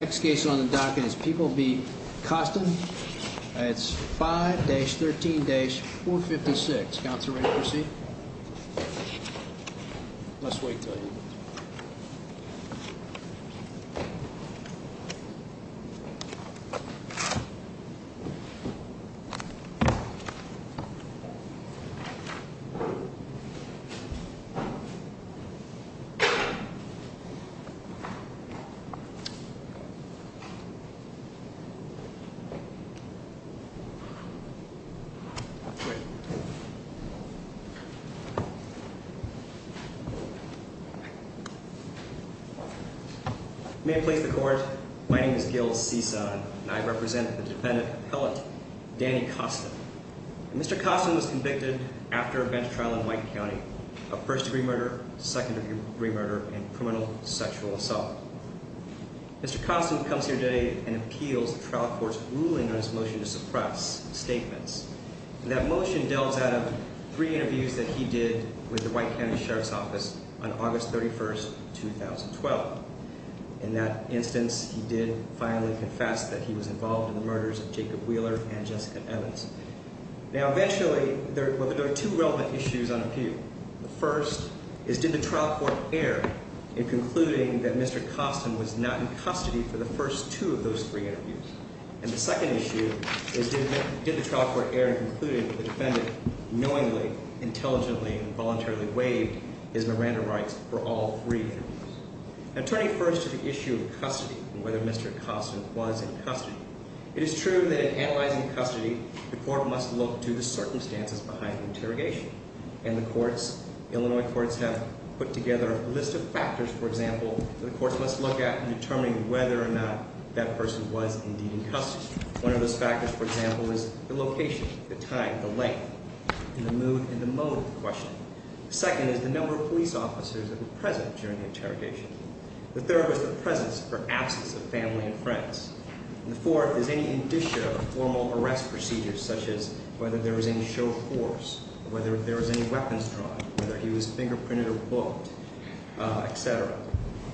Next case on the docket is People v. Coston. It's 5-13-456. Counselor, ready to proceed? May it please the court, my name is Gil Cison, and I represent the defendant appellate, Danny Coston. Mr. Coston was convicted after a bench trial in White County of first degree murder, second degree murder, and criminal sexual assault. Mr. Coston comes here today and appeals the trial court's ruling on his motion to suppress statements. That motion delves out of three interviews that he did with the White County Sheriff's Office on August 31st, 2012. In that instance, he did finally confess that he was involved in the murders of Jacob Wheeler and Jessica Evans. Now, eventually, there are two relevant issues on appeal. The first is, did the trial court err in concluding that Mr. Coston was not in custody for the first two of those three interviews? And the second issue is, did the trial court err in concluding that the defendant knowingly, intelligently, and voluntarily waived his Miranda rights for all three interviews? Now, turning first to the issue of custody, and whether Mr. Coston was in custody, it is true that in analyzing custody, the court must look to the circumstances behind the interrogation. And the courts, Illinois courts, have put together a list of factors, for example, that the courts must look at in determining whether or not that person was indeed in custody. One of those factors, for example, is the location, the time, the length, and the mood and the mode of the question. Second is the number of police officers that were present during the process, or absence of family and friends. And the fourth is any indicia of formal arrest procedures, such as whether there was any show of force, whether there was any weapons drawn, whether he was fingerprinted or booked, etc.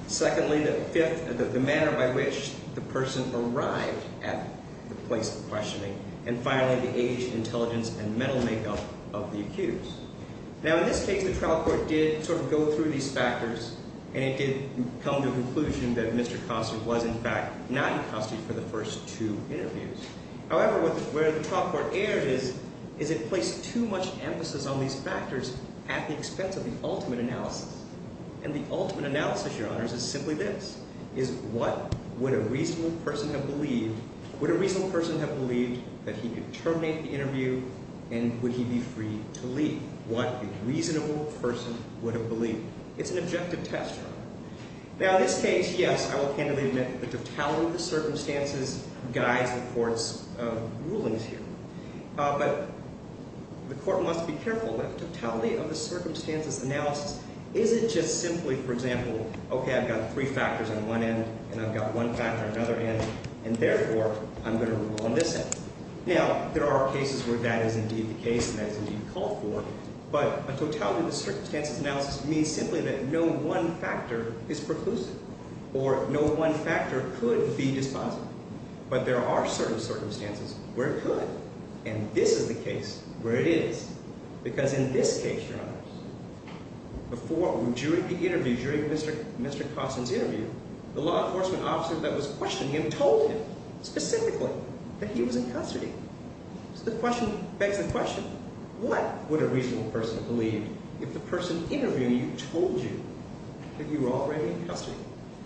Secondly, the fifth, the manner by which the person arrived at the place of questioning, and finally, the age, intelligence, and mental makeup of the accused. Now, in this case, the trial court did sort of go through these factors, and it did come to the conclusion that Mr. Coston was, in fact, not in custody for the first two interviews. However, where the trial court erred is, is it placed too much emphasis on these factors at the expense of the ultimate analysis. And the ultimate analysis, Your Honors, is simply this, is what would a reasonable person have believed, would a reasonable person have believed that he could terminate the interview, and would he be free to leave? What a reasonable person would have believed. It's an objective test, Your Honor. Now, in this case, yes, I will candidly admit that the totality of the circumstances guides the Court's rulings here. But the Court must be careful that the totality of the circumstances analysis isn't just simply, for example, okay, I've got three factors on one end, and I've got one factor on the other end, and therefore, I'm going to rule on this end. Now, there are cases where that is indeed the case, and that is indeed called for, but a totality of the circumstances analysis means simply that no one factor is preclusive, or no one factor could be dispositive. But there are certain circumstances where it could, and this is the case where it is, because in this case, Your Honors, before, during the interview, during Mr. Coston's interview, the law enforcement officer that was questioning him told him specifically that he was in custody. So the question begs the question, what would a reasonable person believe if the person interviewing you told you that you were already in custody?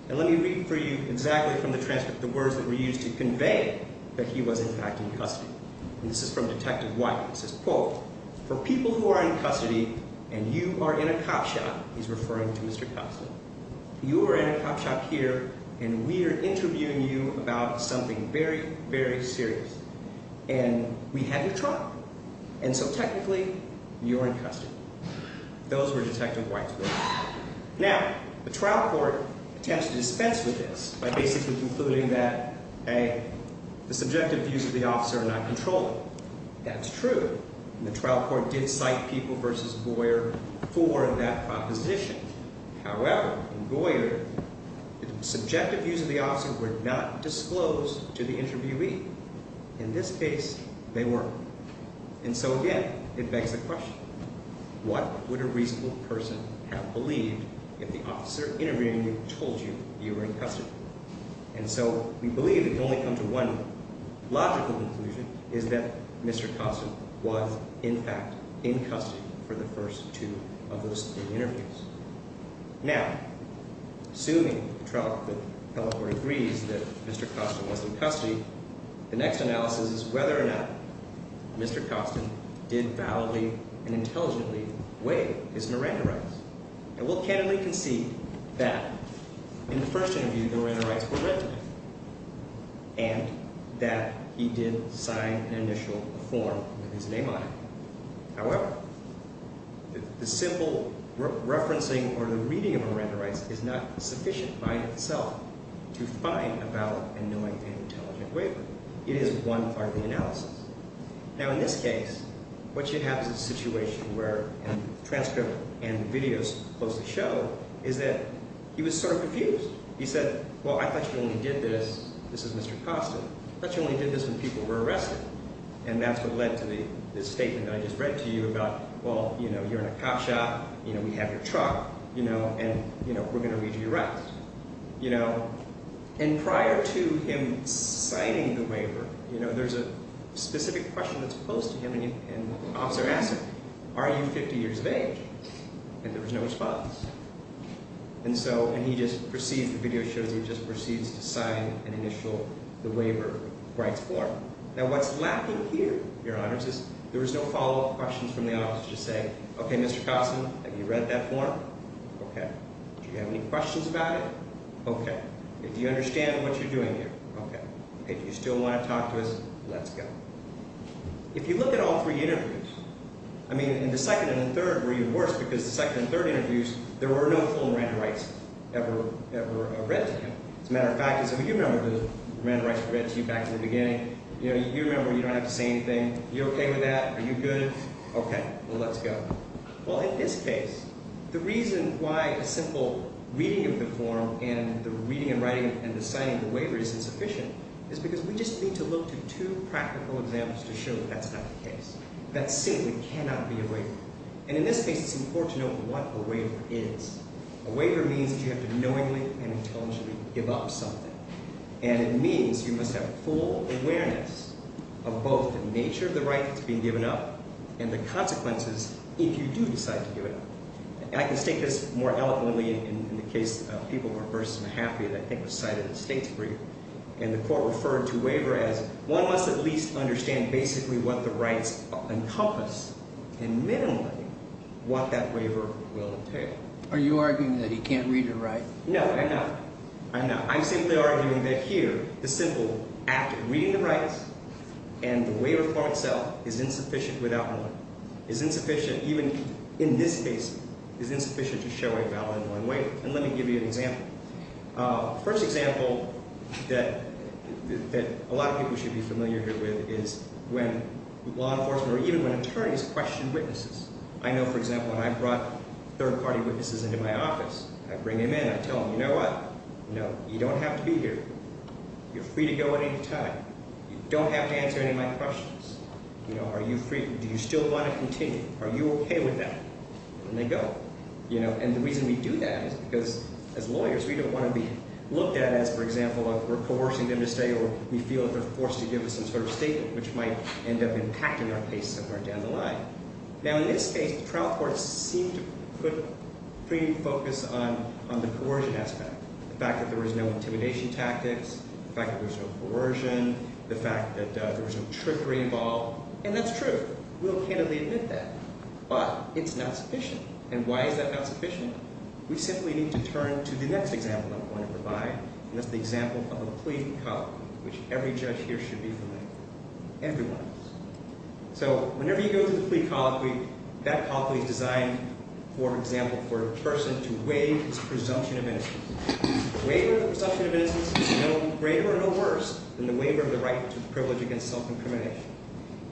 And let me read for you exactly from the transcript the words that were used to convey that he was in fact in custody. And this is from Detective White. It says, quote, for people who are in custody, and you are in a cop shop, he's referring to Mr. Coston, you are in a cop shop here, and we are interviewing you about something very, very serious. And we have your trial. And so technically, you are in custody. Those were Detective White's words. Now, the trial court attempts to dispense with this by basically concluding that, A, the subjective views of the officer are not controllable. That's true, and the trial court did cite People v. Boyer for that proposition. However, in Boyer, the subjective views of the officer were not disclosed to the interviewee. In this case, they were. And so again, it begs the question, what would a reasonable person have believed if the officer interviewing you told you you were in custody? And so we believe it can only come to one logical conclusion, is that Mr. Coston was in custody. And so we believe that Mr. Coston was in custody. Now, assuming the trial court agrees that Mr. Coston was in custody, the next analysis is whether or not Mr. Coston did validly and intelligently waive his Miranda rights. And we'll candidly concede that in the first interview, the Miranda rights were written, and that he did sign an initial form with his name on it. However, the simple referencing or the reading of Miranda rights is not sufficient by itself to find a valid and knowing and intelligent waiver. It is one part of the analysis. Now, in this case, what you have is a situation where a transcript and videos closely show is that he was sort of confused. He said, well, I thought you only did this, this is Mr. Coston. I thought you only did this when people were arrested. And that's what led to the statement that I just read to you about, well, you know, you're in a cop shop, you know, we have your truck, you know, and, you know, we're going to read you your rights. You know, and prior to him signing the waiver, you know, there's a specific question that's posed to him, and the officer asks him, are you 50 years of age? And there was no response. And so, and he just proceeds, the video shows he just proceeds to sign an initial, the waiver rights form. Now, what's lacking here, Your Honors, is there was no follow-up questions from the officer to say, okay, Mr. Coston, have you read that form? Okay. Do you have any questions about it? Okay. Do you understand what you're doing here? Okay. Do you still want to talk to us? Let's go. If you look at all three interviews, I mean, in the second and the third were even worse because the second and third interviews, there were no full Miranda rights ever, ever read to him. As a matter of fact, you remember the Miranda rights were read to you back in the beginning. You know, you remember you don't have to say anything. Are you okay with that? Are you good? Okay. Well, let's go. Well, in this case, the reason why a simple reading of the form and the reading and writing and the signing of the waiver is insufficient is because we just need to look to two practical examples to show that that's not the case. That simply cannot be a waiver. And in this case, it's important to know what a waiver is. A waiver means that you have to knowingly and intelligently give up something. And it means you must have full awareness of both the nature of the right that's being given up and the consequences if you do decide to give it up. I can state this more eloquently in the case of people who are first and happy that I think was cited in the state's brief. And the court referred to waiver as one must at least understand basically what the rights encompass and minimally what that waiver will entail. Are you arguing that he can't read or write? No, I'm not. I'm not. I'm simply arguing that here the simple act of reading the rights and the waiver form itself is insufficient without one. It's insufficient even in this case. It's insufficient to show a valid in one way. And let me give you an example. First example that a lot of people should be familiar here with is when law enforcement or even when attorneys question witnesses. I know, for example, when I brought third-party witnesses into my office, I'd bring them in. I'd tell them, you know what? You don't have to be here. You're free to go at any time. You don't have to answer any of my questions. Are you free? Do you still want to continue? Are you okay with that? And they'd go. And the reason we do that is because as lawyers, we don't want to be looked at as, for example, we're coercing them to stay or we feel that they're forced to give us some sort of statement which might end up impacting our case somewhere down the line. Now, in this case, the trial court seemed to put pretty focus on the coercion aspect, the fact that there was no intimidation tactics, the fact that there was no coercion, the fact that there was no trickery involved. And that's true. We'll candidly admit that. But it's not sufficient. And why is that not sufficient? We simply need to turn to the next example I'm going to provide, and that's the example of a plea cut, which every judge here should be familiar with, every one of us. So whenever you go to the plea colloquy, that colloquy is designed, for example, for a person to waive his presumption of innocence. Waiver of presumption of innocence is no greater or no worse than the waiver of the right to privilege against self-incrimination.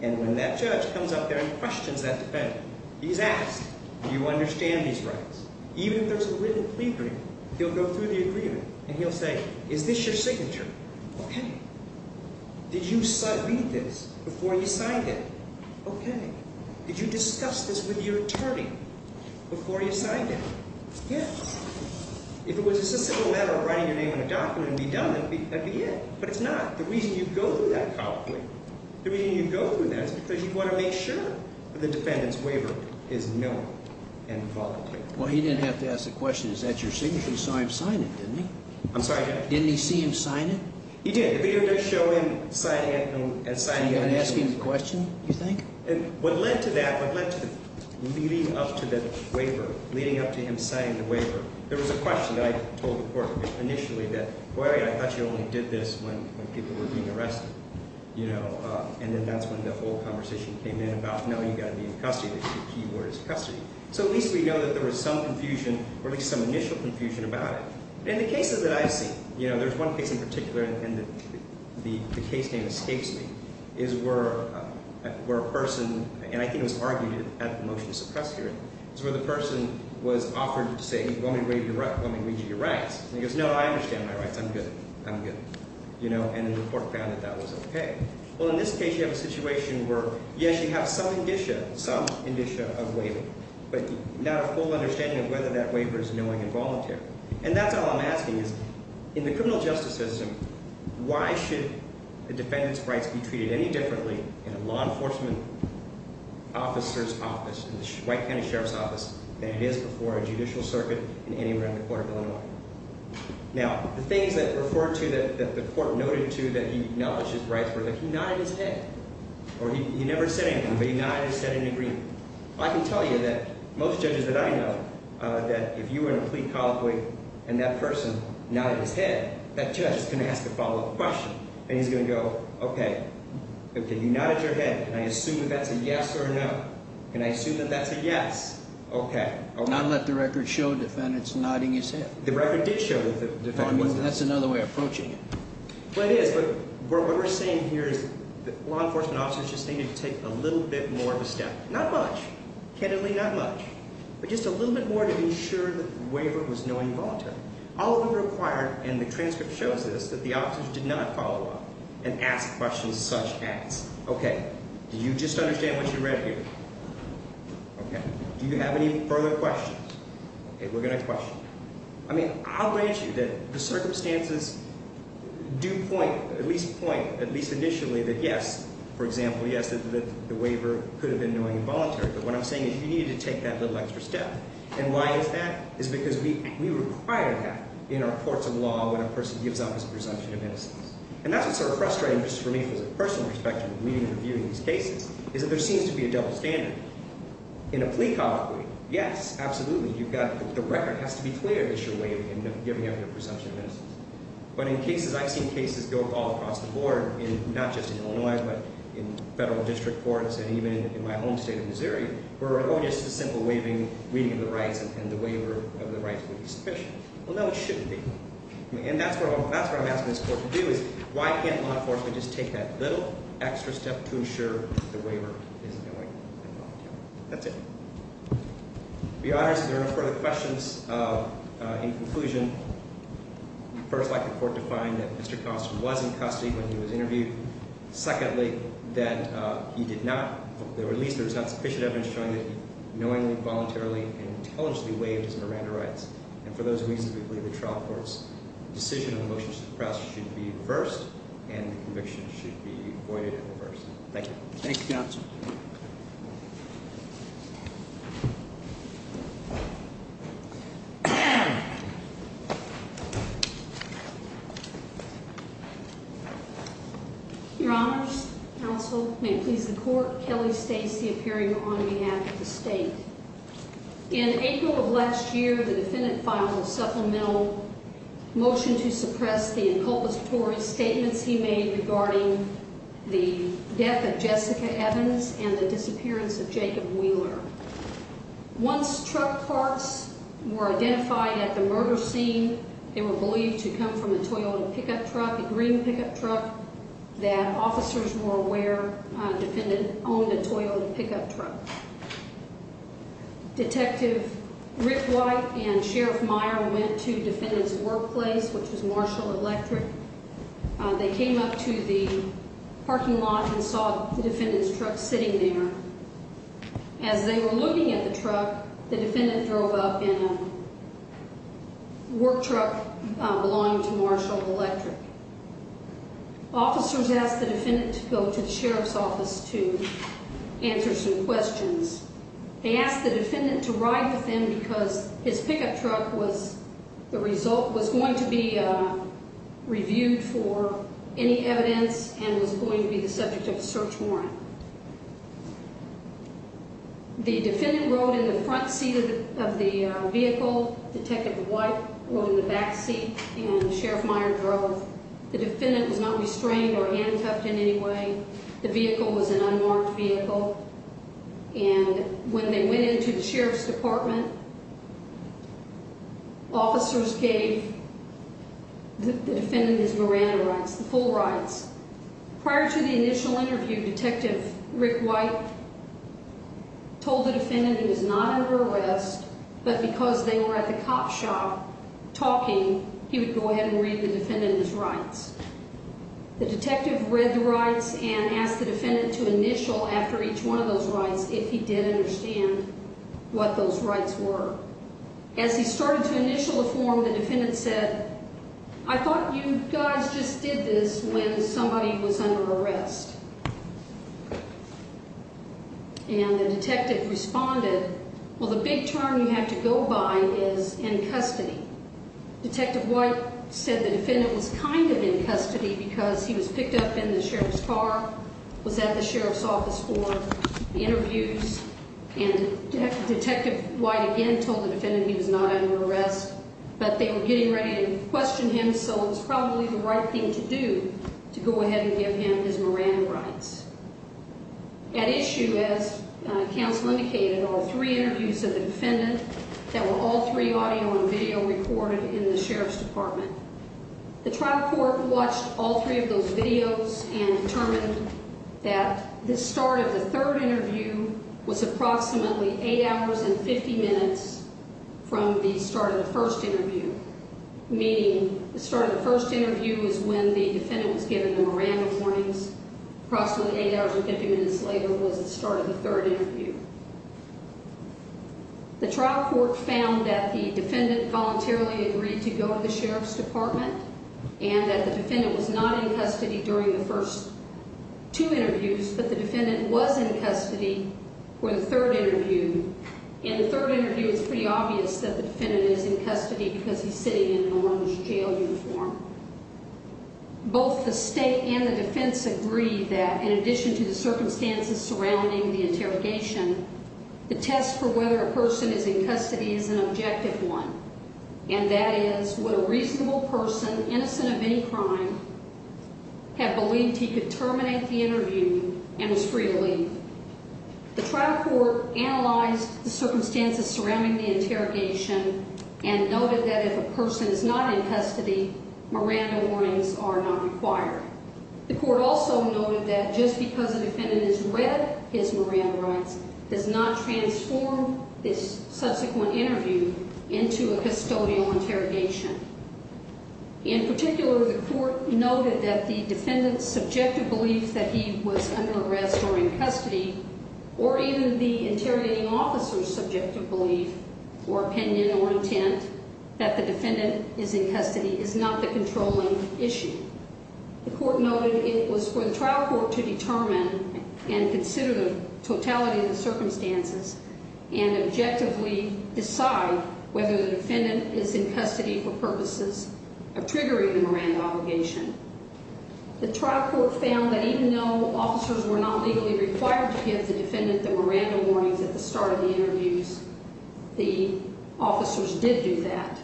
And when that judge comes up there and questions that defendant, he's asked, do you understand these rights? Even if there's a written plea agreement, he'll go through the agreement and he'll say, is this your signature? Okay. Did you read this before you signed it? Okay. Did you discuss this with your attorney before you signed it? Yes. If it was a simple matter of writing your name on a document and be done, that'd be it. But it's not. The reason you go through that colloquy, the reason you go through that is because you want to make sure that the defendant's waiver is known and voluntary. Well, he didn't have to ask the question, is that your signature? He saw him sign it, didn't he? I'm sorry? Didn't he see him sign it? He did. The video does show him signing it. So you got to ask him the question, you think? And what led to that, what led to leading up to the waiver, leading up to him signing the waiver, there was a question I told the court initially that, well, I thought you only did this when people were being arrested, you know, and then that's when the whole conversation came in about, no, you've got to be in custody. The key word is custody. So at least we know that there was some confusion or at least some initial confusion about it. In the cases that I've seen, you know, there's one case in particular, and the case name escapes me, is where a person, and I think it was argued at the motion to suppress hearing, is where the person was offered to say, well, let me read you your rights. And he goes, no, I understand my rights. I'm good. I'm good. You know, and the court found that that was okay. Well, in this case, you have a situation where, yes, you have some indicia, some indicia of waiving, but not a full understanding of whether that waiver is knowing and voluntary. And that's all I'm asking is, in the criminal justice system, why should a defendant's rights be treated any differently in a law enforcement officer's office, in the White County Sheriff's Office, than it is before a judicial circuit in anywhere in the court of Illinois? Now, the things that referred to that the court noted to that he acknowledged his rights were that he nodded his head. Or he never said anything, but he nodded his head in agreement. I can tell you that most judges that I know, that if you were in a plea colloquy and that person nodded his head, that judge is going to ask a follow-up question, and he's going to go, okay, okay, you nodded your head. Can I assume that that's a yes or a no? Can I assume that that's a yes? Okay. Not let the record show a defendant's nodding his head. The record did show that the defendant nodded his head. That's another way of approaching it. Well, it is, but what we're saying here is that law enforcement officers just needed to take a little bit more of a step. Not much. Candidly, not much. But just a little bit more to be sure that the waiver was knowing and voluntary. All of them required, and the transcript shows this, that the officers did not follow up and ask questions such as, okay, do you just understand what you read here? Okay. Do you have any further questions? Okay, we're going to question. I mean, I'll grant you that the circumstances do point, at least point, at least initially, that yes, for example, yes, that the waiver could have been knowing and voluntary. But what I'm saying is you needed to take that little extra step. And why is that? It's because we require that in our courts of law when a person gives up his presumption of innocence. And that's what's sort of frustrating, just for me, from a personal perspective, reading and reviewing these cases, is that there seems to be a double standard. In a plea colloquy, yes, absolutely. You've got the record has to be clear that you're waiving and giving up your presumption of innocence. But in cases, I've seen cases go all across the board, not just in Illinois, but in federal district courts, and even in my home state of Missouri, where, oh, just a simple waiving, reading of the rights, and the waiver of the rights would be sufficient. Well, no, it shouldn't be. And that's what I'm asking this court to do, is why can't law enforcement just take that little extra step to ensure the waiver is knowing and voluntary? That's it. To be honest, if there are no further questions, in conclusion, first, I'd like the court to find that Mr. Costner was in custody when he was interviewed. Secondly, that he did not, or at least there was not sufficient evidence showing that he knowingly, voluntarily, and intelligently waived his Miranda rights. And for those reasons, we believe the trial court's decision on the motion to suppress should be reversed, and the conviction should be voided at first. Thank you. Thank you, counsel. Your honors, counsel, may it please the court, Kelly Stacey appearing on behalf of the state. In April of last year, the defendant filed a supplemental motion to suppress the inculpatory statements he made regarding the death of Jessica Evans and the disappearance of Jacob Wheeler. Once truck parts were identified at the murder scene, they were believed to come from a Toyota pickup truck, a green pickup truck, that officers were aware a defendant owned a Toyota pickup truck. Detective Rick White and Sheriff Meyer went to the defendant's workplace, which was Marshall Electric. They came up to the parking lot and saw the defendant's truck sitting there. As they were looking at the truck, the defendant drove up in a work truck belonging to Marshall Electric. Officers asked the defendant to go to the sheriff's office to answer some questions. They asked the defendant to ride with them because his pickup truck was going to be reviewed for any evidence and was going to be the subject of a search warrant. The defendant rode in the front seat of the vehicle. Detective White rode in the back seat, and Sheriff Meyer drove. The defendant was not restrained or handcuffed in any way. The vehicle was an unmarked vehicle, and when they went into the sheriff's department, officers gave the defendant his Miranda rights, the full rights. Prior to the initial interview, Detective Rick White told the defendant he was not under arrest, but because they were at the cop shop talking, he would go ahead and read the defendant his rights. The detective read the rights and asked the defendant to initial after each one of those rights if he did understand what those rights were. As he started to initial the form, the defendant said, I thought you guys just did this when somebody was under arrest. And the detective responded, well, the big turn you have to go by is in custody. Detective White said the defendant was kind of in custody because he was picked up in the sheriff's car, was at the sheriff's office for interviews, and Detective White again told the defendant he was not under arrest, but they were getting ready to question him, so it was probably the right thing to do to go ahead and give him his Miranda rights. At issue, as counsel indicated, are three interviews of the defendant that were all three audio and video recorded in the sheriff's department. The trial court watched all three of those videos and determined that the start of the third interview was approximately 8 hours and 50 minutes from the start of the first interview, meaning the start of the first interview is when the defendant was given the Miranda warnings. Approximately 8 hours and 50 minutes later was the start of the third interview. The trial court found that the defendant voluntarily agreed to go to the sheriff's department and that the defendant was not in custody during the first two interviews, but the defendant was in custody for the third interview. In the third interview, it's pretty obvious that the defendant is in custody because he's sitting in an orange jail uniform. Both the state and the defense agreed that, in addition to the circumstances surrounding the interrogation, the test for whether a person is in custody is an objective one, and that is would a reasonable person, innocent of any crime, have believed he could terminate the interview and was free to leave. The trial court analyzed the circumstances surrounding the interrogation and noted that if a person is not in custody, Miranda warnings are not required. The court also noted that just because a defendant has read his Miranda rights does not transform this subsequent interview into a custodial interrogation. In particular, the court noted that the defendant's subjective belief that he was under arrest or in custody, or even the interrogating officer's subjective belief or opinion or intent that the defendant is in custody is not the controlling issue. The court noted it was for the trial court to determine and consider the totality of the circumstances and objectively decide whether the defendant is in custody for purposes of triggering the Miranda obligation. The trial court found that even though officers were not legally required to give the defendant the Miranda warnings at the start of the interviews, the officers did do that,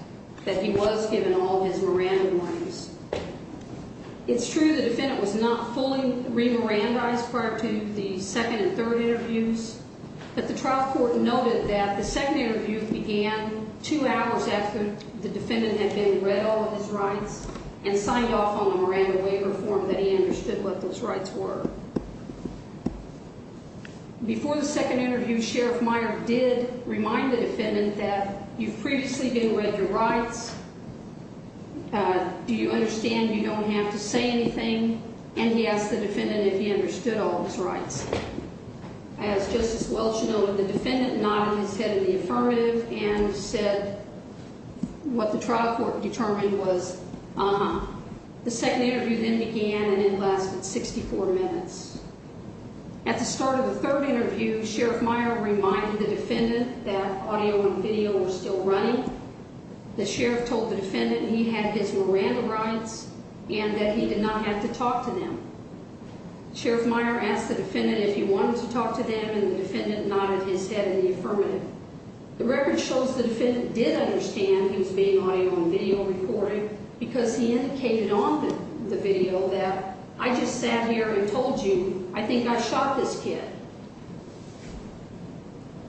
that he was given all his Miranda warnings. It's true the defendant was not fully re-Mirandaized prior to the second and third interviews, but the trial court noted that the second interview began two hours after the defendant had been read all of his rights and signed off on the Miranda waiver form that he understood what those rights were. Before the second interview, Sheriff Meyer did remind the defendant that you've previously been read your rights, do you understand you don't have to say anything, and he asked the defendant if he understood all his rights. As Justice Welch noted, the defendant nodded his head in the affirmative and said what the trial court determined was uh-huh. The second interview then began and it lasted 64 minutes. At the start of the third interview, Sheriff Meyer reminded the defendant that audio and video were still running. The sheriff told the defendant he had his Miranda rights and that he did not have to talk to them. Sheriff Meyer asked the defendant if he wanted to talk to them, and the defendant nodded his head in the affirmative. The record shows the defendant did understand he was being audio and video recorded because he indicated on the video that I just sat here and told you I think I shot this kid.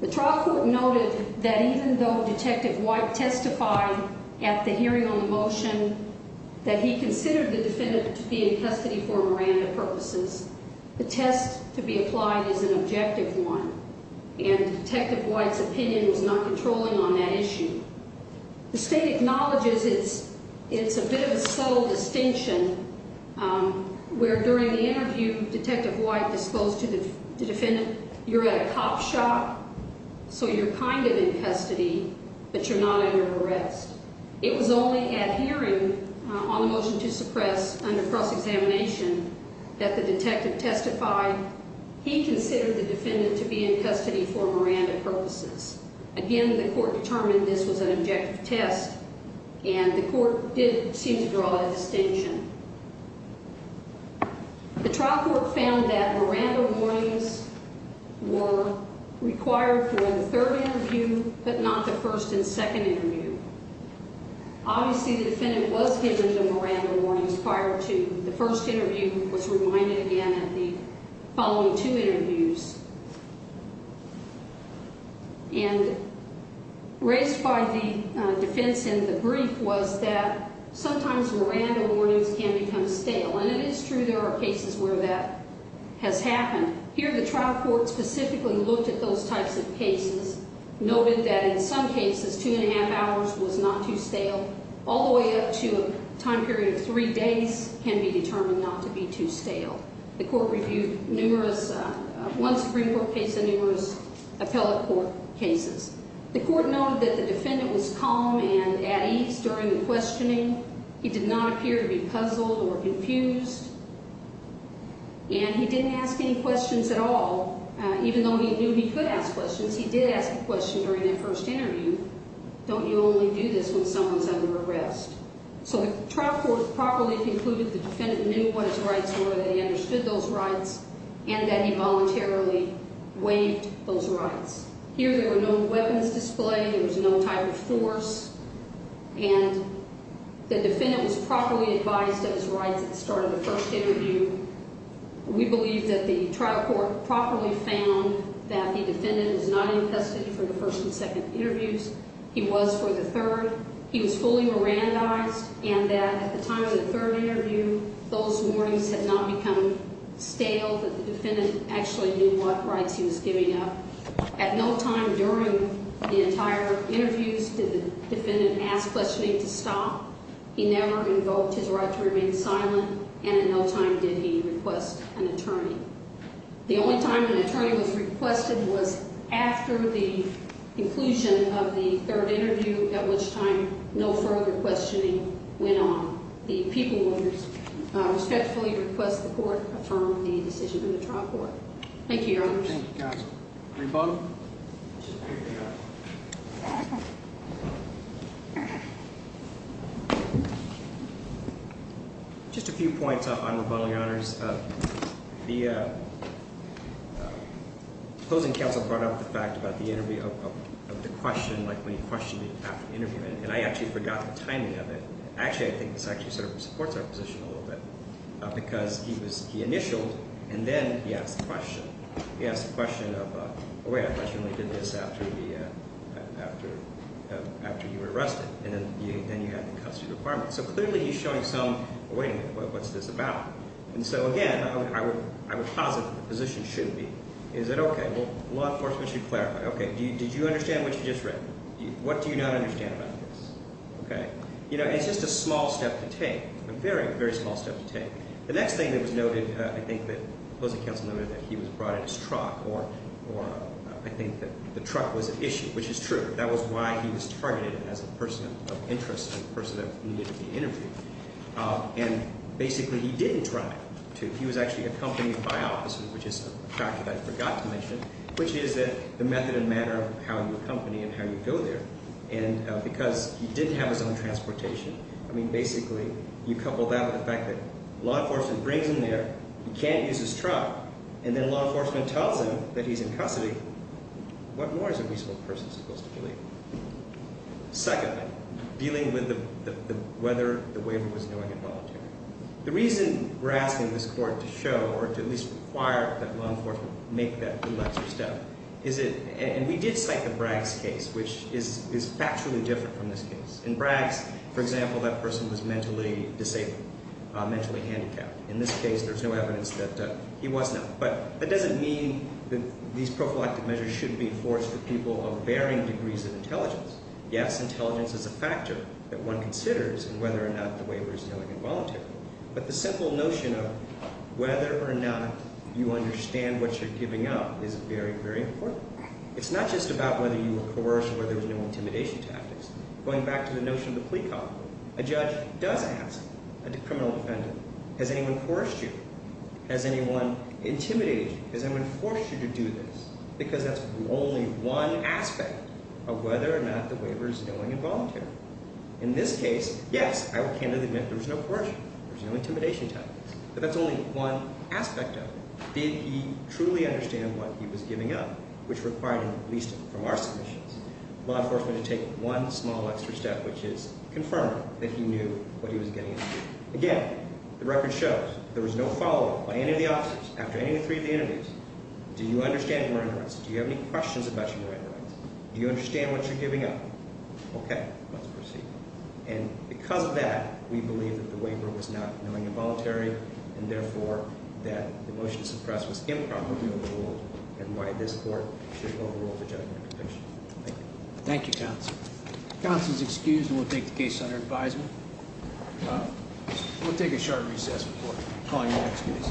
The trial court noted that even though Detective White testified at the hearing on the motion that he considered the defendant to be in custody for Miranda purposes, the test to be applied is an objective one, and Detective White's opinion was not controlling on that issue. The state acknowledges it's a bit of a subtle distinction where during the interview Detective White disclosed to the defendant you're at a cop shop, so you're kind of in custody, but you're not under arrest. It was only at hearing on the motion to suppress under cross-examination that the detective testified he considered the defendant to be in custody for Miranda purposes. Again, the court determined this was an objective test, and the court did seem to draw a distinction. The trial court found that Miranda warnings were required during the third interview, but not the first and second interview. Obviously, the defendant was given the Miranda warnings prior to the first interview, was reminded again at the following two interviews. And raised by the defense in the brief was that sometimes Miranda warnings can become stale, and it is true there are cases where that has happened. Here the trial court specifically looked at those types of cases, noted that in some cases two and a half hours was not too stale, all the way up to a time period of three days can be determined not to be too stale. The court reviewed one Supreme Court case and numerous appellate court cases. The court noted that the defendant was calm and at ease during the questioning. He did not appear to be puzzled or confused, and he didn't ask any questions at all, even though he knew he could ask questions. He did ask a question during that first interview. Don't you only do this when someone's under arrest? So the trial court properly concluded the defendant knew what his rights were, that he understood those rights, and that he voluntarily waived those rights. Here there were no weapons displayed, there was no type of force, and the defendant was properly advised of his rights at the start of the first interview. We believe that the trial court properly found that the defendant was not infested for the first and second interviews. He was for the third. He was fully Mirandized and that at the time of the third interview, those warnings had not become stale, that the defendant actually knew what rights he was giving up. At no time during the entire interviews did the defendant ask questioning to stop. He never invoked his right to remain silent, and at no time did he request an attorney. The only time an attorney was requested was after the conclusion of the third interview, at which time no further questioning went on. The people respectfully request the court affirm the decision of the trial court. Thank you, Your Honors. Thank you, Counsel. Rebuttal? Just a few points on rebuttal, Your Honors. The opposing counsel brought up the fact about the interview of the question, like when he questioned me after the interview, and I actually forgot the timing of it. Actually, I think this actually sort of supports our position a little bit, because he initialed and then he asked the question. He asked the question of, oh, wait, I questionably did this after you were arrested, and then you had the custody requirement. So clearly he's showing some, oh, wait a minute, what's this about? And so, again, I would posit that the position shouldn't be. Is it okay? Well, law enforcement should clarify. Okay, did you understand what you just read? What do you not understand about this? Okay? You know, it's just a small step to take, a very, very small step to take. The next thing that was noted, I think, that opposing counsel noted that he was brought in his truck, or I think that the truck was an issue, which is true. That was why he was targeted as a person of interest and a person that needed to be interviewed. And basically he didn't drive to. He was actually accompanied by officers, which is a fact that I forgot to mention, which is the method and manner of how you accompany and how you go there. And because he didn't have his own transportation, I mean, basically, you couple that with the fact that law enforcement brings him there. He can't use his truck. And then law enforcement tells him that he's in custody. What more is a reasonable person supposed to believe? Second, dealing with whether the waiver was knowing and voluntary. The reason we're asking this court to show, or to at least require, that law enforcement make that de-lexer step, is it, and we did cite the Braggs case, which is factually different from this case. In Braggs, for example, that person was mentally disabled, mentally handicapped. In this case, there's no evidence that he was now. But that doesn't mean that these prophylactic measures shouldn't be enforced for people of varying degrees of intelligence. Yes, intelligence is a factor that one considers in whether or not the waiver is knowing and voluntary. But the simple notion of whether or not you understand what you're giving up is very, very important. It's not just about whether you were coerced or whether there was no intimidation tactics. Going back to the notion of the plea copy, a judge does ask a criminal defendant, has anyone coerced you? Has anyone intimidated you? Has anyone forced you to do this? Because that's only one aspect of whether or not the waiver is knowing and voluntary. In this case, yes, I will candidly admit there was no coercion. There was no intimidation tactics. But that's only one aspect of it. Did he truly understand what he was giving up, which required, at least from our submissions, law enforcement to take one small extra step, which is confirm that he knew what he was getting into. Again, the record shows there was no follow-up by any of the officers after any of the three of the interviews. Do you understand your rights? Do you have any questions about your rights? Do you understand what you're giving up? Okay, let's proceed. And because of that, we believe that the waiver was not knowing and voluntary, and therefore that the motion to suppress was improperly overruled, and why this court should overrule the judgment. Thank you. Thank you, Counsel. Counsel is excused, and we'll take the case under advisement. We'll take a short recess before calling the next case.